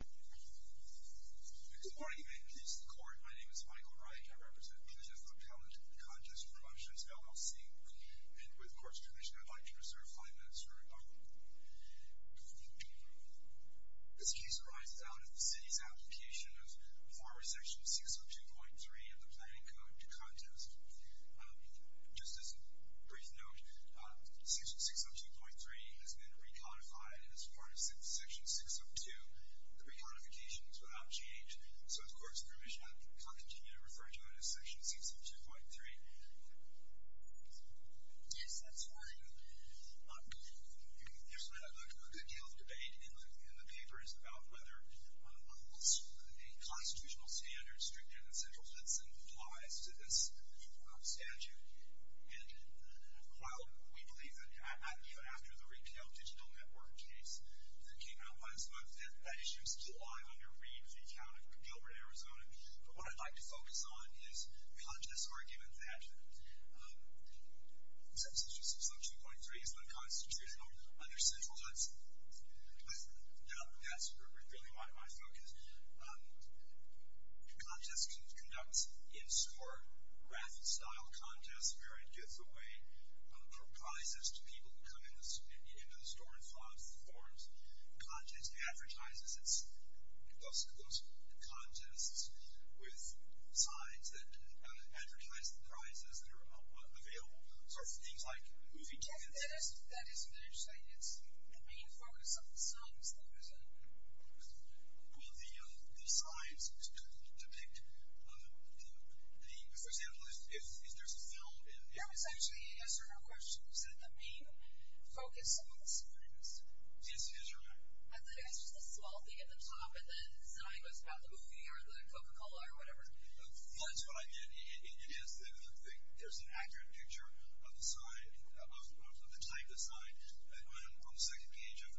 Good morning and good day to the court. My name is Michael Wright. I represent the Department of Contest Promotions, LLC, and with court's permission, I'd like to reserve five minutes for rebuttal. This case arises out of the City's application of former Section 602.3 of the Planning Code to Contest. Just as a brief note, Section 602.3 has been recodified as part of Section 602, the recodification is without change. So, with court's permission, I'll continue to refer to it as Section 602.3. Yes, that's fine. There's a good deal of debate in the papers about whether a constitutional standard stricter than central citizen applies to this statute, and while we believe that even after the issue is still alive under Reed v. County of Gilbert, Arizona, but what I'd like to focus on is Contest's argument that Section 602.3 is unconstitutional under central citizen. That's really my focus. Contest conducts in-store, raffle-style contests, where it gives away prizes to people who come in into the store and funds the forms. Contest advertises those contests with signs that advertise the prizes that are available, sort of things like movie tickets. Yes, that is interesting. It's the main focus of the signs, though, isn't it? Well, the signs depict the, for example, if there's a film in there. No, it's actually, yes or no question, is that the main focus of the signs? Yes, you're right. I thought it was just a small thing at the top, and the sign was about the movie or the Coca-Cola or whatever. Well, that's what I meant. It is. There's an accurate picture of the type of sign on the second page of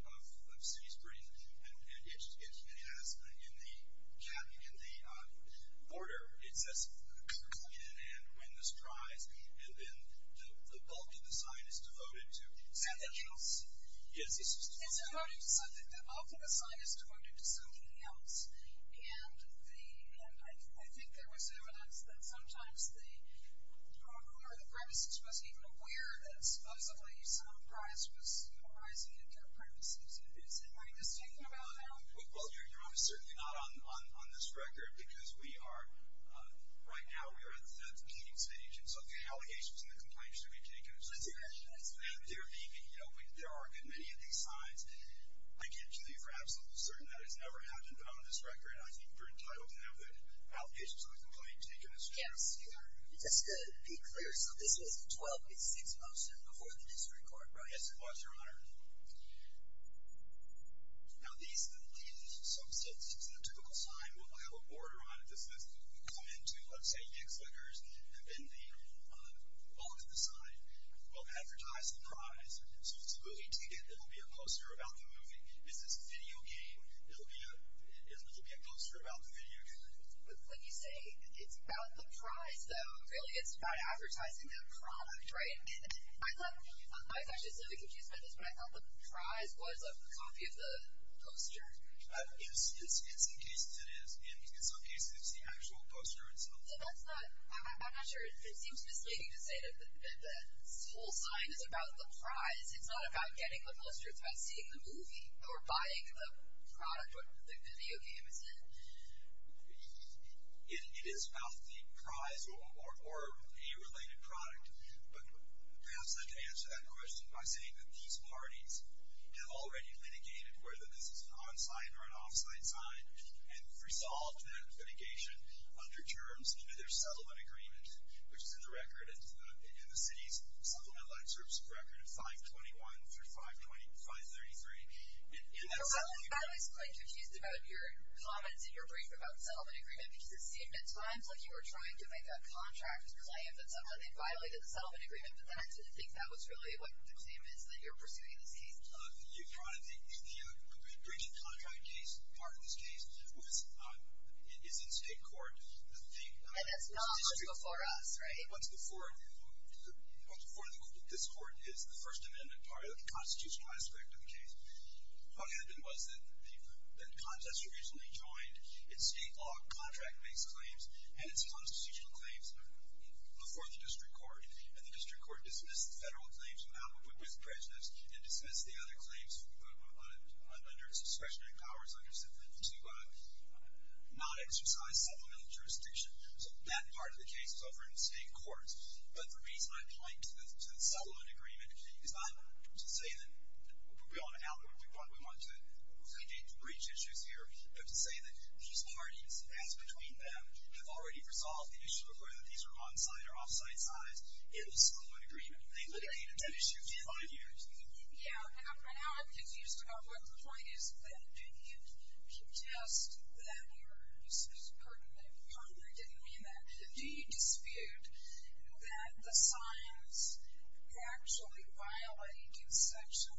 City Springs, and it has, in the order, it says, come in and win this prize, and then the bulk of the sign is devoted to something else. Yes, the bulk of the sign is devoted to something else, and I think there was evidence that sometimes the prize was rising at their premises. Is it my distinction about that? Well, you're certainly not on this record, because we are, right now we are at the meeting stage, and so the allegations and the complaints should be taken as true. That's right. There are many of these signs. I can tell you for absolute certain that has never happened on this record, and I think you're entitled to know that allegations of a complaint taken as true. Just to be clear, so this was a 12-8-6 poster before the district court, right? Yes, it was, Your Honor. Now, these, some typical sign will have a border on it that says, come in to, let's say, Yick's Lickers, and then the bulk of the sign will advertise the prize. So if it's a movie ticket, it'll be a poster about the movie. If it's a video game, it'll be a poster about the video game. But when you say it's about the prize, though, really it's about advertising the product, right? I was actually slightly confused by this, but I thought the prize was a copy of the poster. Yes, in some cases it is, and in some cases it's the actual poster itself. So that's not, I'm not sure, it seems misleading to say that this whole sign is about the prize. It's not about getting the poster, it's about seeing the movie or buying the product, or the video game, isn't it? It is about the prize or a related product. But perhaps I can answer that question by saying that these parties have already litigated whether this is an on-sign or an off-sign sign, and resolved that litigation under terms into their settlement agreement, which is in the record, in the city's Supplement Life Services record of 521 through 533. I was quite confused about your comments in your brief about the settlement agreement, because it seemed at times like you were trying to make a contract claim that somehow they violated the settlement agreement, but then I didn't think that was really what the claim is that you're pursuing this case. You brought up the bridging contract case. Part of this case is in state court. And that's not before us, right? What's before this court is the First Amendment part of the constitutional aspect of the case. What happened was that the contest originally joined its state law contract-based claims and its constitutional claims before the district court. And the district court dismissed the federal claims in alibi with prejudice, and dismissed the other claims under its discretionary powers to not exercise supplemental jurisdiction. So that part of the case was over in state courts. But the reason I point to the settlement agreement is not to say that we want to outlaw it, we want to engage in breach issues here, but to say that these parties, as between them, have already resolved the issue of whether these are on-site or off-site signs in the settlement agreement. They've litigated that issue for five years. Yeah, now I'm confused about what the point is then. Do you contest that your partner didn't mean that? Do you dispute that the signs actually violate Section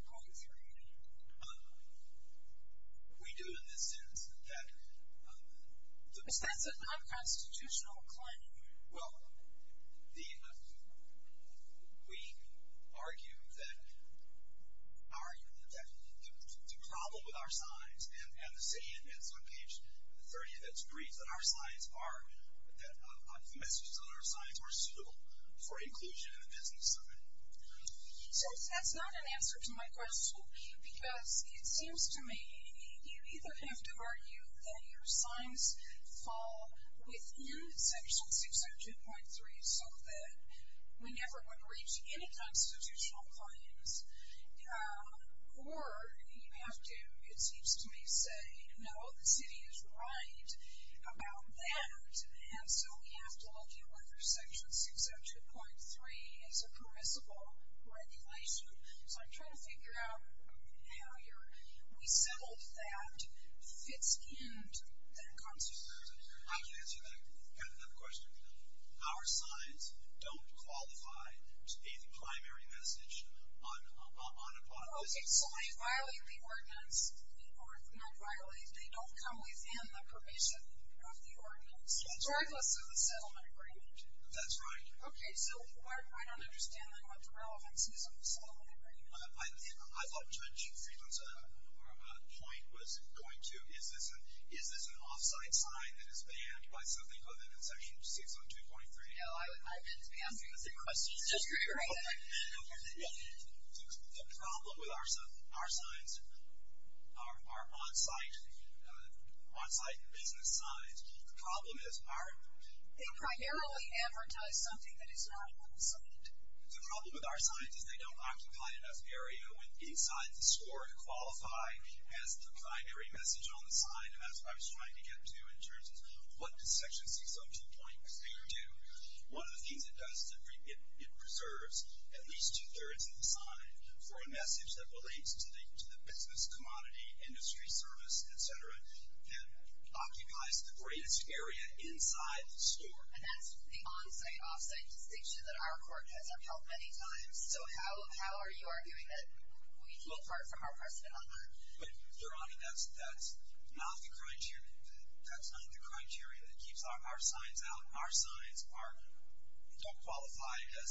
602.3? We do in the sense that that's a non-constitutional claim. Well, we argue that the problem with our signs, and the saying that's on page 30 that's briefed, that our signs are, that the messages on our signs are suitable for inclusion in the business of it. So that's not an answer to my question, because it seems to me you either have to argue that your signs fall within Section 602.3 so that we never would breach any constitutional claims, or you have to, it seems to me, say, no, the city is right about that, and so we have to look at whether Section 602.3 is a permissible regulation. So I'm trying to figure out how we settled that fits into that constitution. I would answer that kind of question. Our signs don't qualify to be the primary message on a plot. Okay, so they violate the ordinance, or not violate, they don't come within the permission of the ordinance, regardless of the settlement agreement. That's right. Okay, so I don't understand, then, what the relevance is of the settlement agreement. I thought Judge Friedland's point was going to, is this an off-site sign that is banned by something other than Section 602.3? No, I meant to be asking the same question. The problem with our signs, our on-site business signs, the problem is our, they primarily advertise something that is not on the site. The problem with our signs is they don't occupy enough area inside the store to qualify as the primary message on the sign. And that's what I was trying to get to in terms of what does Section 602.3 do. One of the things it does is it preserves at least two-thirds of the sign for a message that relates to the business, commodity, industry, service, et cetera, that occupies the greatest area inside the store. And that's the on-site, off-site distinction that our court has upheld many times. So how are you arguing that we pull apart from our precedent on that? Your Honor, that's not the criteria. That's not the criteria that keeps our signs out. Our signs don't qualify as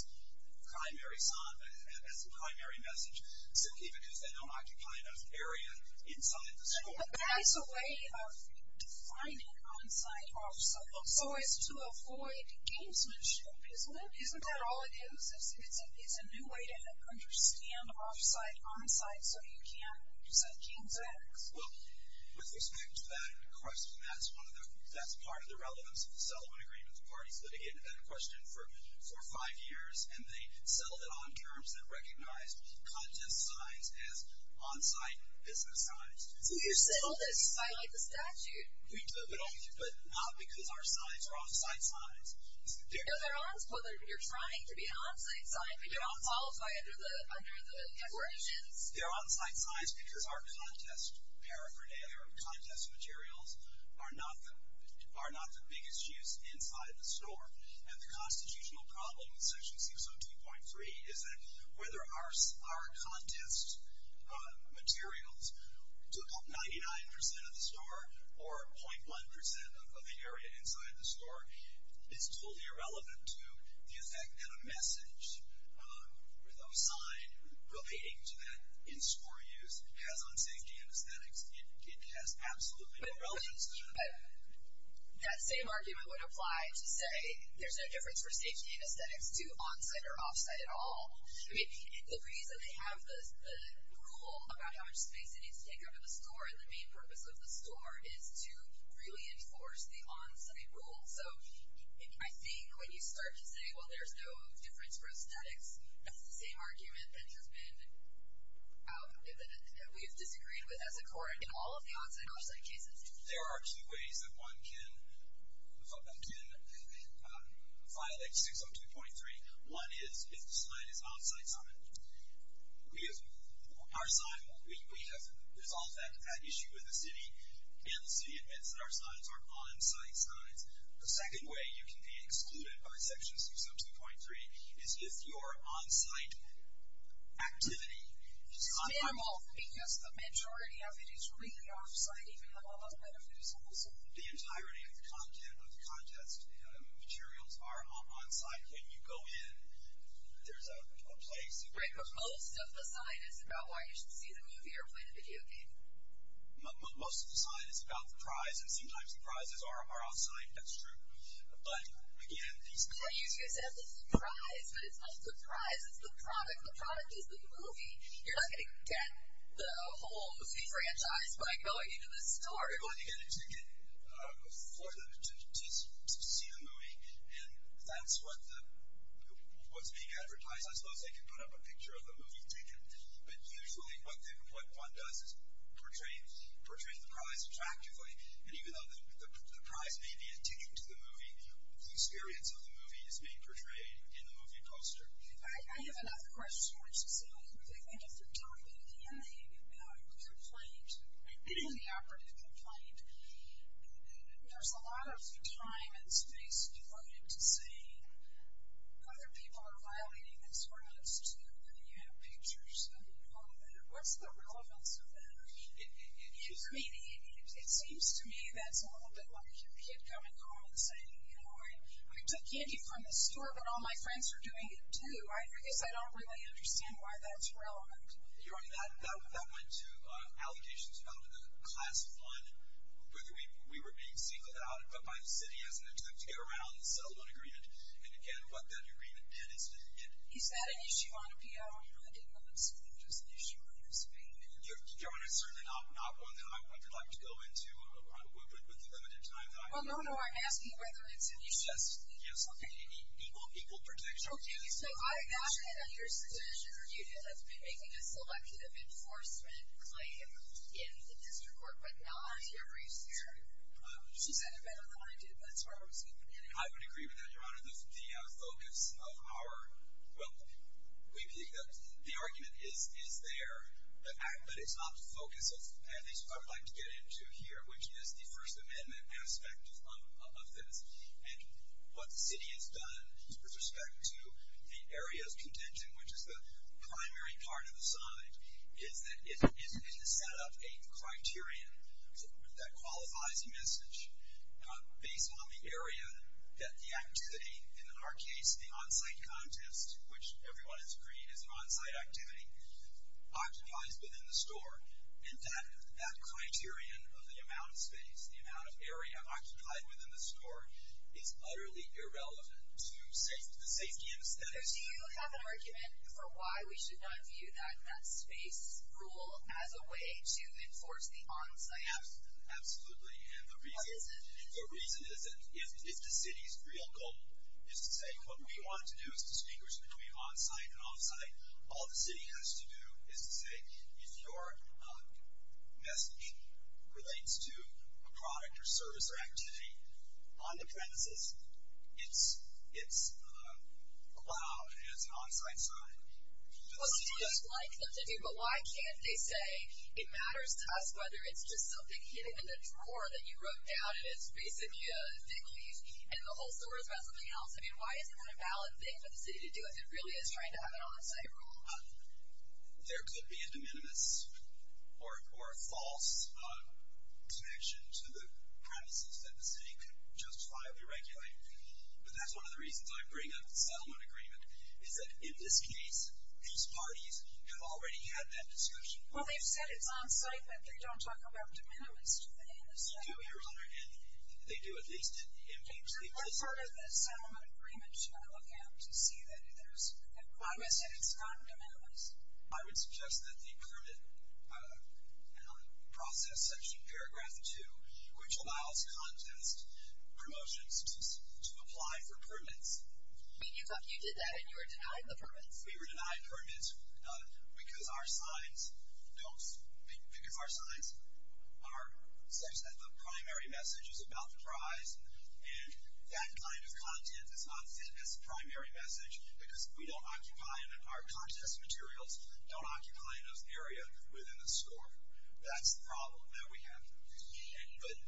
primary sign, as the primary message, simply because they don't occupy enough area inside the store. But that is a way of defining on-site, off-site. So it's to avoid gamesmanship. Isn't that all it is? It's a new way to understand off-site, on-site so you can set games up. Well, with respect to that question, that's part of the relevance of the settlement agreement. The parties litigated that question for five years, and they settled it on terms that recognized contest signs as on-site business signs. So you settled it by the statute. We did, but not because our signs are off-site signs. No, they're on. You're trying to be an on-site sign, but you don't qualify under the regulations. They're on-site signs because our contest paraphernalia or contest materials are not the biggest use inside the store. And the constitutional problem in Section 602.3 is that whether our contest materials took up 99% of the store or 0.1% of the area inside the store is totally irrelevant to the effect that a message with a sign relating to that in-store use has on safety anesthetics. It has absolutely no relevance to that. But that same argument would apply to say there's no difference for safety anesthetics to on-site or off-site at all. I mean, the reason they have the rule about how much space it needs to take up in the store and the main purpose of the store is to really enforce the on-site rule. So I think when you start to say, well, there's no difference for aesthetics, that's the same argument that has been out, that we have disagreed with as a court in all of the on-site and off-site cases. There are two ways that one can file Section 602.3. One is if the sign is off-site. We have resolved that issue with the city, and the city admits that our signs are on-site signs. The second way you can be excluded by Section 602.3 is if your on-site activity is on-site. It's normal because the majority of it is really off-site, even though a lot of it is on-site. The entirety of the content of the contest materials are on-site. When you go in, there's a place. Right, but most of the sign is about why you should see the movie or play the video game. Most of the sign is about the prize, and sometimes the prizes are on-site. That's true. But, again, these guys have the prize, but it's not the prize. It's the product. The product is the movie. You're not going to get the whole movie franchise by going into the store. You're going to get a ticket for them to see the movie, and that's what's being advertised. I suppose they could put up a picture of the movie ticket. But usually what one does is portray the prize attractively, and even though the prize may be a ticket to the movie, the experience of the movie is being portrayed in the movie poster. I have another question, which is a little bit of a different topic. In the complaint, in the operative complaint, there's a lot of time and space devoted to saying other people are violating these rights, too, and you have pictures and all of that. What's the relevance of that? I mean, it seems to me that's a little bit like a kid coming home and saying, you know, I took candy from the store, but all my friends are doing it, too. I guess I don't really understand why that's relevant. Your Honor, that went to allegations about the class fund, whether we were being singled out, but by the city hasn't attempted to get around the settlement agreement. And, again, what that agreement did is it didn't get it. Is that an issue on appeal? I really didn't want to assume it was an issue on his payment. Your Honor, it's certainly not one that I would like to go into with the limited time that I have. Well, no, no. I'm asking whether it's an issue. Yes. Yes. Okay. Equal protection. Okay. So, I acknowledge that your subsidiary unit has been making a selective enforcement claim in the district court, but not on your briefs here. She said it better than I did, but that's where I was getting at. I would agree with that, Your Honor. The focus of our – well, the argument is there, but it's not the focus of – of this. And what the city has done with respect to the area of contention, which is the primary part of the site, is that it has set up a criterion that qualifies a message based on the area that the activity, in our case, the on-site contest, which everyone has agreed is an on-site activity, occupies within the store. And that criterion of the amount of space, the amount of area occupied within the store, is utterly irrelevant to the safety and aesthetics. So, do you have an argument for why we should not view that space rule as a way to enforce the on-site rule? Absolutely. Absolutely. And the reason is that if the city's real goal is to say, all the city has to do is to say, if your message relates to a product or service or activity on the premises, it's allowed and it's an on-site site. But why can't they say, it matters to us whether it's just something hidden in the drawer that you wrote down and it's basically a thick leaf and the whole store is about something else. I mean, why isn't that a valid thing for the city to do if it really is trying to have an on-site rule? There could be a de minimis or a false connection to the premises that the city could justifiably regulate. But that's one of the reasons I bring up the settlement agreement, is that in this case, these parties have already had that discussion. Well, they've said it's on-site, but they don't talk about de minimis in the settlement agreement. They do, Your Honor. And they do, at least, in papers. What part of the settlement agreement should I look at to see that there's progress and it's not in de minimis? I would suggest that the permit process section, paragraph 2, which allows contest promotions to apply for permits. You did that and you were denied the permits? We were denied permits because our signs don't, because our signs say that the primary message is about the prize and that kind of content is not fit as the primary message because our contest materials don't occupy enough area within the store. That's the problem that we have.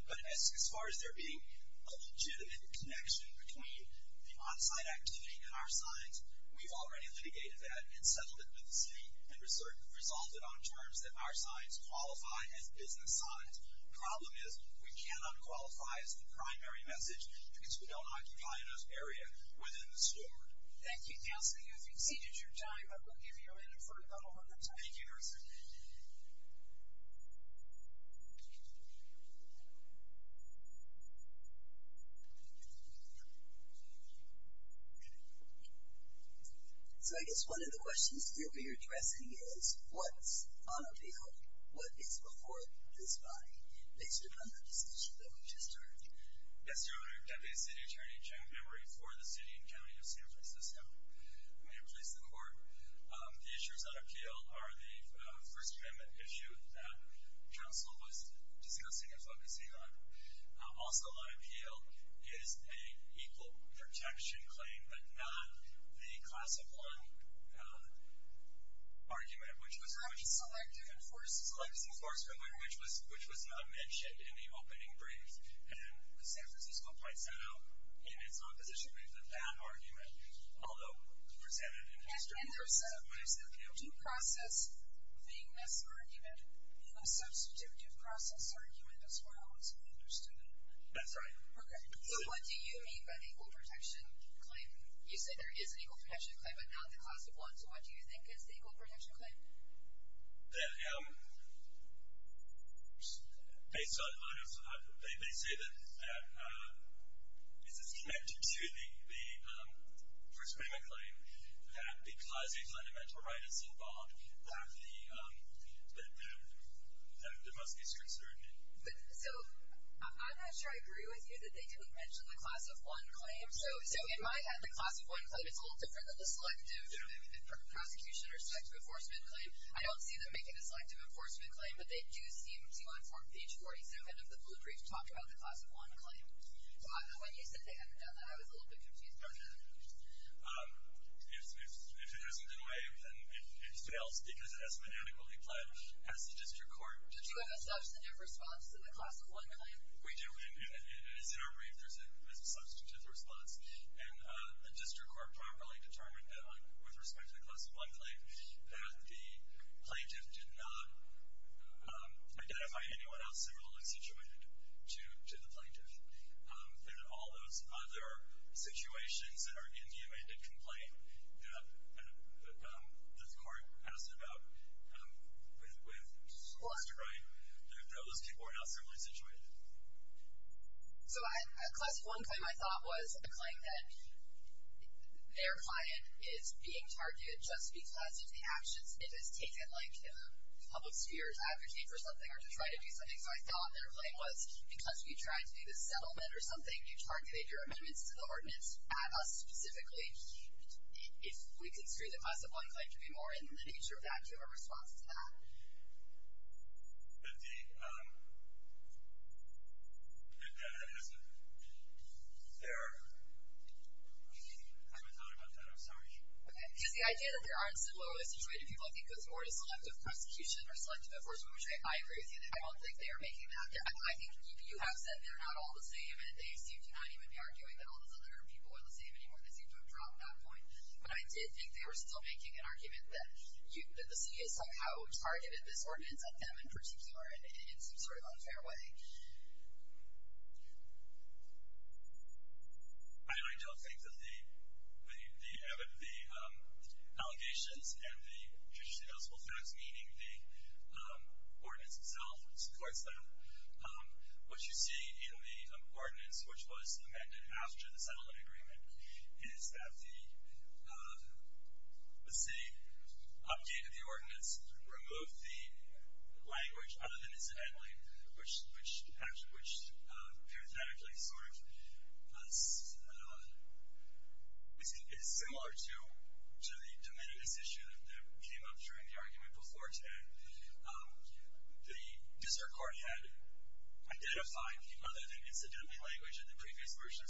But as far as there being a legitimate connection between the on-site activity and our signs, we've already litigated that and settled it with the city and resolved it on terms that our signs qualify as business signs. The problem is we cannot qualify as the primary message because we don't occupy enough area within the store. Thank you, Counselor. You've exceeded your time. I will give you a minute for about a hundred seconds. Thank you, Counselor. So I guess one of the questions that you'll be addressing is what's on a bill? What is before this body based upon the decision that we just heard? Yes, Your Honor, Deputy City Attorney Jack Emery for the City and County of San Francisco. I'm here to please the Court. The issues on appeal are the First Amendment issue that Counsel was discussing and focusing on. Also on appeal is an equal protection claim but not the class of one argument which was… Selective enforcement. Selective enforcement, which was not mentioned in the opening brief. And the San Francisco point set out in its opposition brief that that argument, although presented in history… And there's a due process being mis-argument and a substitutive process argument as well, as we understood it. That's right. Okay. So what do you mean by the equal protection claim? You said there is an equal protection claim but not the class of one. So what do you think is the equal protection claim? They say that this is connected to the First Amendment claim that because a fundamental right is involved that there must be strict certainty. So I'm not sure I agree with you that they didn't mention the class of one claim. So in my head, the class of one claim is a little different than the selective prosecution or selective enforcement claim. I don't see them making a selective enforcement claim but they do seem to inform page 47 of the blue brief to talk about the class of one claim. When you said they hadn't done that, I was a little bit confused by that. If it hasn't been waived then it fails because it hasn't been adequately planned as the district court… Did you have a substantive response to the class of one claim? We do. As in our brief, there's a substantive response. The district court properly determined that with respect to the class of one claim that the plaintiff did not identify anyone else similarly situated to the plaintiff. That all those other situations that are in the amended complaint that the court asked about with solicitor right, that those people were not similarly situated. So a class of one claim I thought was a claim that their client is being targeted just because of the actions it has taken in the public sphere to advocate for something or to try to do something. So I thought their claim was because we tried to do this settlement or something, you targeted your amendments to the ordinance at us specifically. If we construe the class of one claim to be more in the nature of that, do you have a response to that? But the… I haven't thought about that. I'm sorry. Because the idea that there aren't similarly situated people I think goes more to selective prosecution or selective enforcement, which I agree with you. I don't think they are making that. I think you have said they're not all the same, and they seem to not even be arguing that all those other people are the same anymore. They seem to have dropped that point. But I did think they were still making an argument that the city has somehow targeted this ordinance at them in particular in some sort of unfair way. I don't think that the allegations and the judicially eligible facts, meaning the ordinance itself supports that. What you see in the ordinance, which was amended after the settlement agreement, is that the city updated the ordinance, removed the language other than incidentally, which is similar to the de minimis issue that came up during the argument before today. The district court had identified the other than incidentally language in the previous version,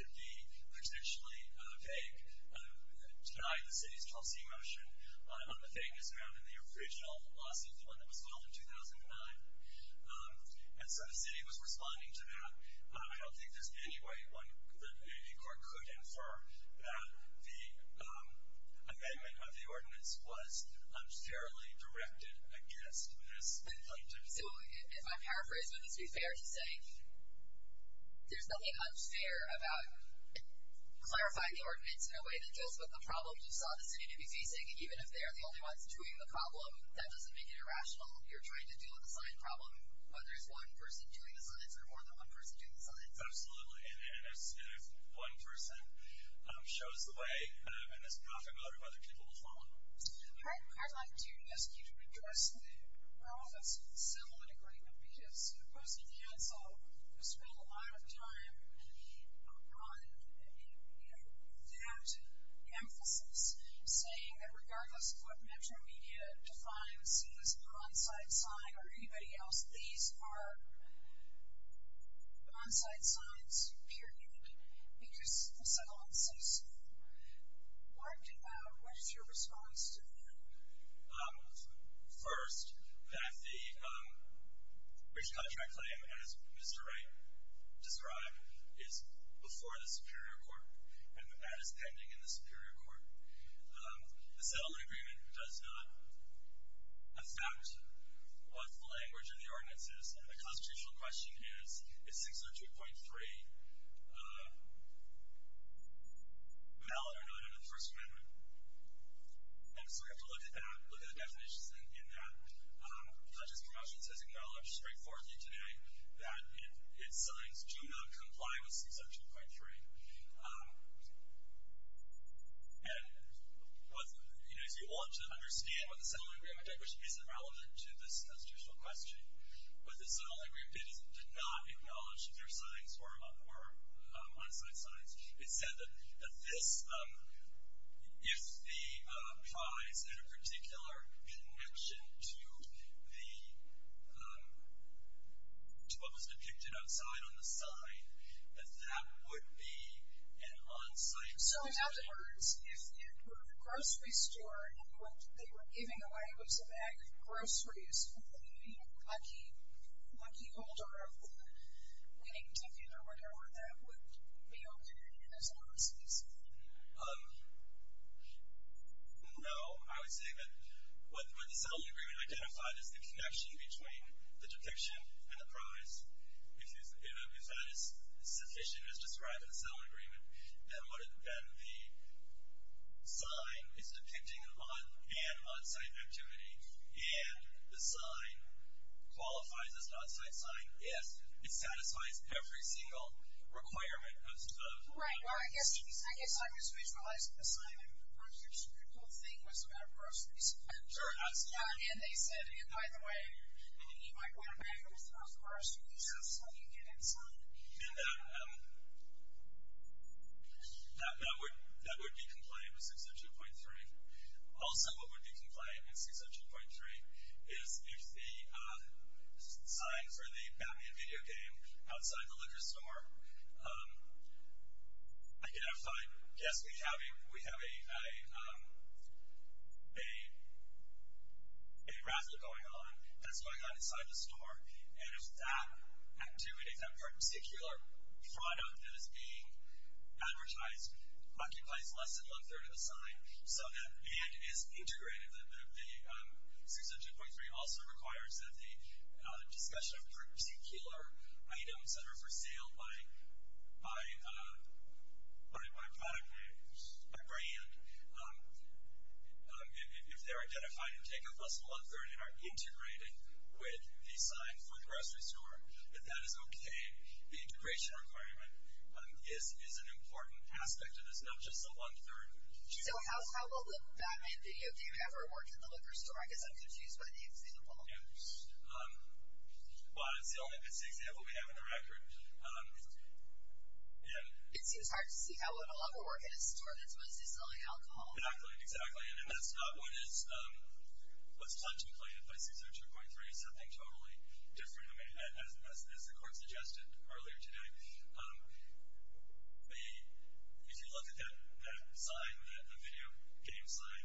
602.3, to be potentially vague, to deny the city's policy motion on the vagueness around the original lawsuit, the one that was filed in 2009. And so the city was responding to that. I don't think there's any way that a court could infer that the amendment of the ordinance was unfairly directed against this plaintiff. So if I paraphrase what needs to be fair to say, there's nothing unfair about clarifying the ordinance in a way that deals with the problems you saw the city to be facing, even if they're the only ones doing the problem. That doesn't make it irrational. You're trying to deal with a science problem, whether it's one person doing the science or more than one person doing the science. Absolutely. And if one person shows the way and is profitable, other people will follow. I'd like to ask you to address the relevance of the settlement agreement, because opposing counsel has spent a lot of time on that emphasis, saying that regardless of what Metro Media defines as on-site sign or anybody else, these are on-site signs, period. Because the settlement says so. What is your response to that? First, that the breach of contract claim, as Mr. Wright described, is before the Superior Court, and that is pending in the Superior Court. The settlement agreement does not affect what the language of the ordinance is, and the constitutional question is, is 602.3 valid or not under the First Amendment? And so we have to look at that, look at the definitions in that. Judges' promotions has acknowledged straightforwardly today that its signs do not comply with 602.3. And if you want to understand what the settlement agreement did, which is irrelevant to this constitutional question, but the settlement agreement did not acknowledge that there are signs or on-site signs. It said that if the prize had a particular connection to what was depicted outside on the sign, that that would be an on-site sign. So in other words, if it were the grocery store, and what they were giving away was a bag of groceries, would the lucky holder of the winning ticket or whatever that would be opened in his offices? No. I would say that what the settlement agreement identified is the connection between the depiction and the prize. If that is sufficient as described in the settlement agreement, then the sign is depicting an on- and on-site activity, and the sign qualifies as an on-site sign if it satisfies every single requirement of 602.3. Right. Well, I guess I was visualizing the sign, and perhaps your whole thing was about groceries. Sure. And they said, and by the way, you might want a bag of groceries when you get inside. And that would be compliant with 602.3. Also what would be compliant with 602.3 is if the sign for the Batman video game outside the liquor store identified, yes, we have a raffle going on that's going on inside the store, and if that activity, that particular product that is being advertised occupies less than one-third of the sign so that it is integrated. The 602.3 also requires that the discussion of particular items that are for sale by brand, if they're identified and take up less than one-third and are integrating with the sign for the grocery store, if that is okay. The integration requirement is an important aspect of this, not just the one-third. So how will the Batman video game ever work in the liquor store? I guess I'm confused by the example. Yes. Well, it's the only example we have on the record. It seems hard to see how it will ever work in a store that's mostly selling alcohol. Exactly. Exactly. And that's not what is contemplated by 602.3, something totally different. As the court suggested earlier today, if you look at that sign, the video game sign,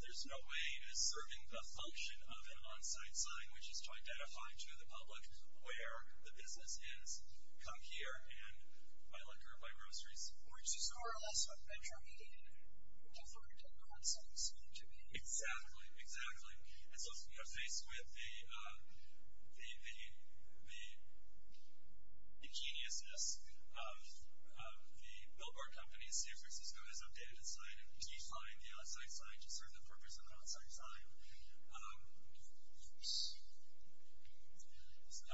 there's no way it is serving the function of an on-site sign, which is to identify to the public where the business is, come here and buy liquor, buy groceries. Which is more or less what Venture Media deferred to the on-site sign to be. Exactly. Exactly. And so we are faced with the genius-ness of the billboard company, San Francisco, has updated its sign and defined the on-site sign to serve the purpose of an on-site sign. Oops. So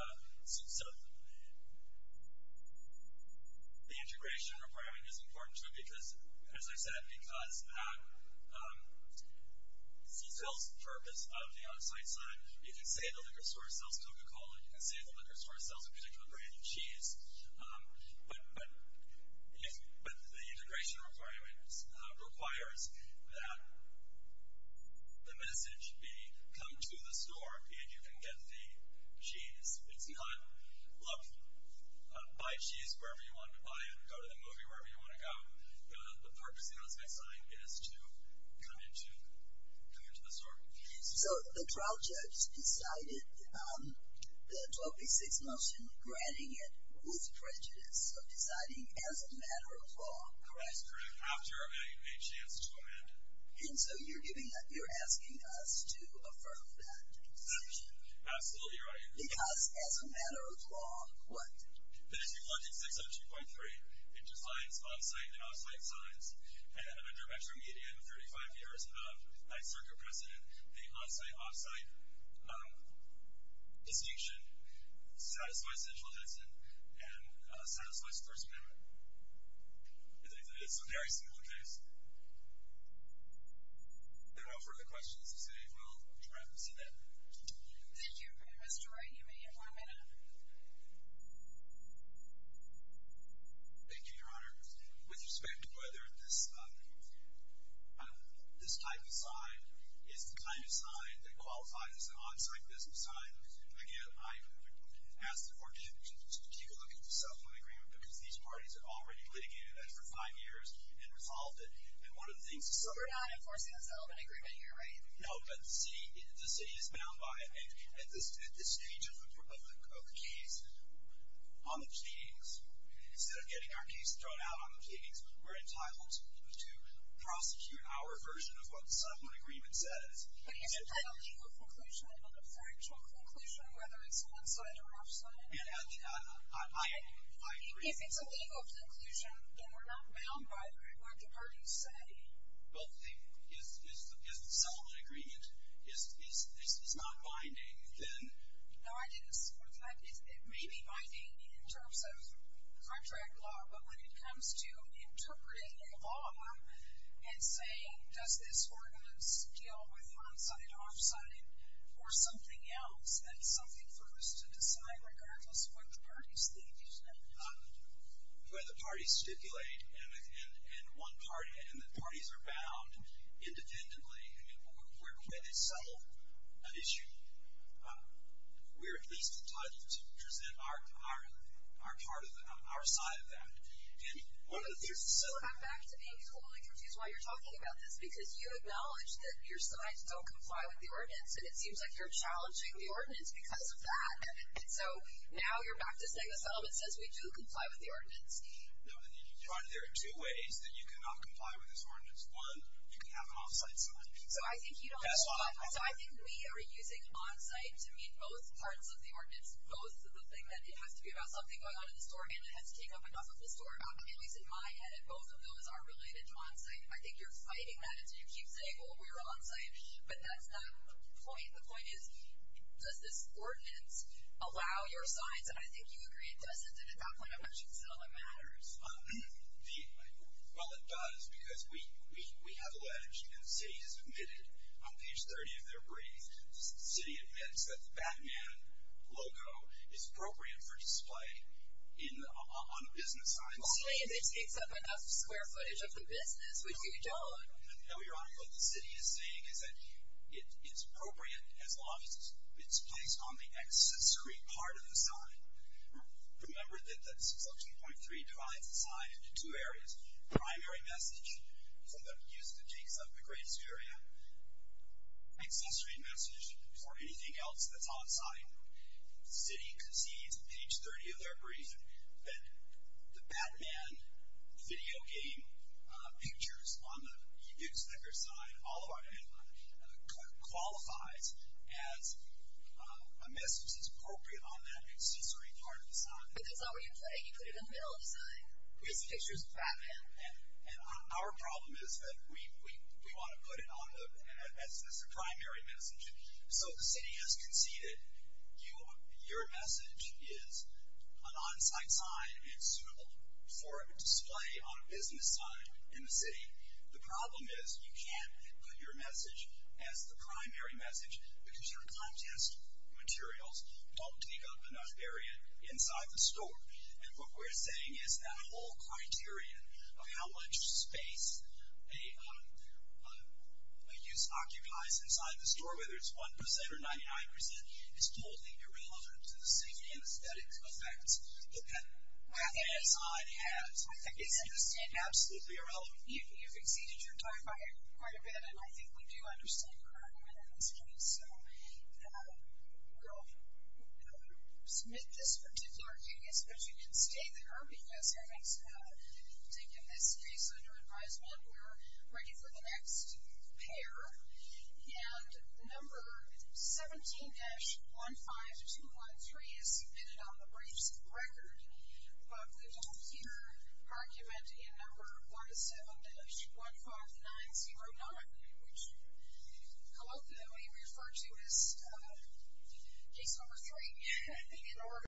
the integration requirement is important too because, as I said, because C-cell's purpose of the on-site sign, you can say the liquor store sells Coca-Cola, you can say the liquor store sells a particular brand of cheese, but the integration requirement requires that the message be, come to the store and you can get the cheese. It's not, look, buy cheese wherever you want to buy it, go to the movie wherever you want to go. The purpose of the on-site sign is to come into the store. So the trial judge decided the 1286 motion, granting it with prejudice, so deciding as a matter of law. That's correct. After a chance to amend it. And so you're giving us, you're asking us to affirm that. Absolutely right. Because as a matter of law, what? But if you look at 602.3, it defines on-site and off-site signs. And under Metro Media, 35 years of 9th Circuit precedent, the on-site, off-site distinction satisfies Central Henson and satisfies First Amendment. I think that is a very similar case. If there are no further questions, I say we'll wrap this event. Thank you, Mr. Wright. You may have one minute. Thank you, Your Honor. With respect to whether this type of sign is the kind of sign that qualifies as an on-site business sign, again, I've asked the court to keep a look at the settlement agreement because these parties have already litigated that for five years and resolved it. So we're not enforcing the settlement agreement here, right? No, but the city is bound by it. At this stage of the case, on the pleadings, instead of getting our case thrown out on the pleadings, we're entitled to prosecute our version of what the settlement agreement says. But he's entitled to a conclusion, an inferential conclusion, whether it's on-site or off-site. If it's a legal conclusion, then we're not bound by what the parties say. Well, if the settlement agreement is not binding, then? No, it may be binding in terms of contract law, but when it comes to interpreting the law and saying, does this ordinance deal with on-site, off-site, or something else, then it's something for us to decide regardless of what the parties think, isn't it? The way the parties stipulate and the parties are bound independently, I mean, the way they settle an issue, we're at least entitled to present our side of that. So I'm back to being totally confused why you're talking about this because you acknowledge that your sides don't comply with the ordinance and it seems like you're challenging the ordinance because of that. So now you're back to saying the settlement says we do comply with the ordinance. There are two ways that you cannot comply with this ordinance. One, you can have an off-site side. So I think we are using on-site to mean both parts of the ordinance, both the thing that it has to be about something going on in the store and it has to take up enough of the store. At least in my head, both of those are related to on-site. I think you're fighting that as you keep saying, well, we're on-site, but that's not the point. The point is, does this ordinance allow your sides? And I think you agree it doesn't. And at that point, I'm not sure the settlement matters. Well, it does because we have alleged and the city has admitted on page 30 of their brief, the city admits that the Batman logo is appropriate for display on business signs. Only if it takes up enough square footage of the business, which we don't. Now, Your Honor, what the city is saying is that it's appropriate as long as it's placed on the accessory part of the sign. Remember that Selection Point 3 divides the sign into two areas, primary message for the use that takes up the greatest area, accessory message for anything else that's on-site. The city concedes on page 30 of their brief that the Batman video game pictures on the newspaper side, all of our headline, qualifies as a message that's appropriate on that accessory part of the sign. But that's not where you put it. You put it in the middle of the sign. Here's the pictures of Batman. And our problem is that we want to put it on as the primary message. So the city has conceded your message is an on-site sign. It's suitable for display on a business sign in the city. The problem is you can't put your message as the primary message because your contest materials don't take up enough area inside the store. And what we're saying is that whole criterion of how much space a use occupies inside the store, whether it's 1% or 99%, is totally irrelevant to the safety and aesthetics effects that that sign has. I think it's absolutely irrelevant. You've exceeded your time by quite a bit, and I think we do understand your argument on this case. So we'll submit this particular case, but you can stay there because I think in this case under advisement we're ready for the next pair. And number 17-15213 is submitted on the briefs of the record, but we don't hear argument in number 17-15909, which colloquially we refer to as case number three in Oregon.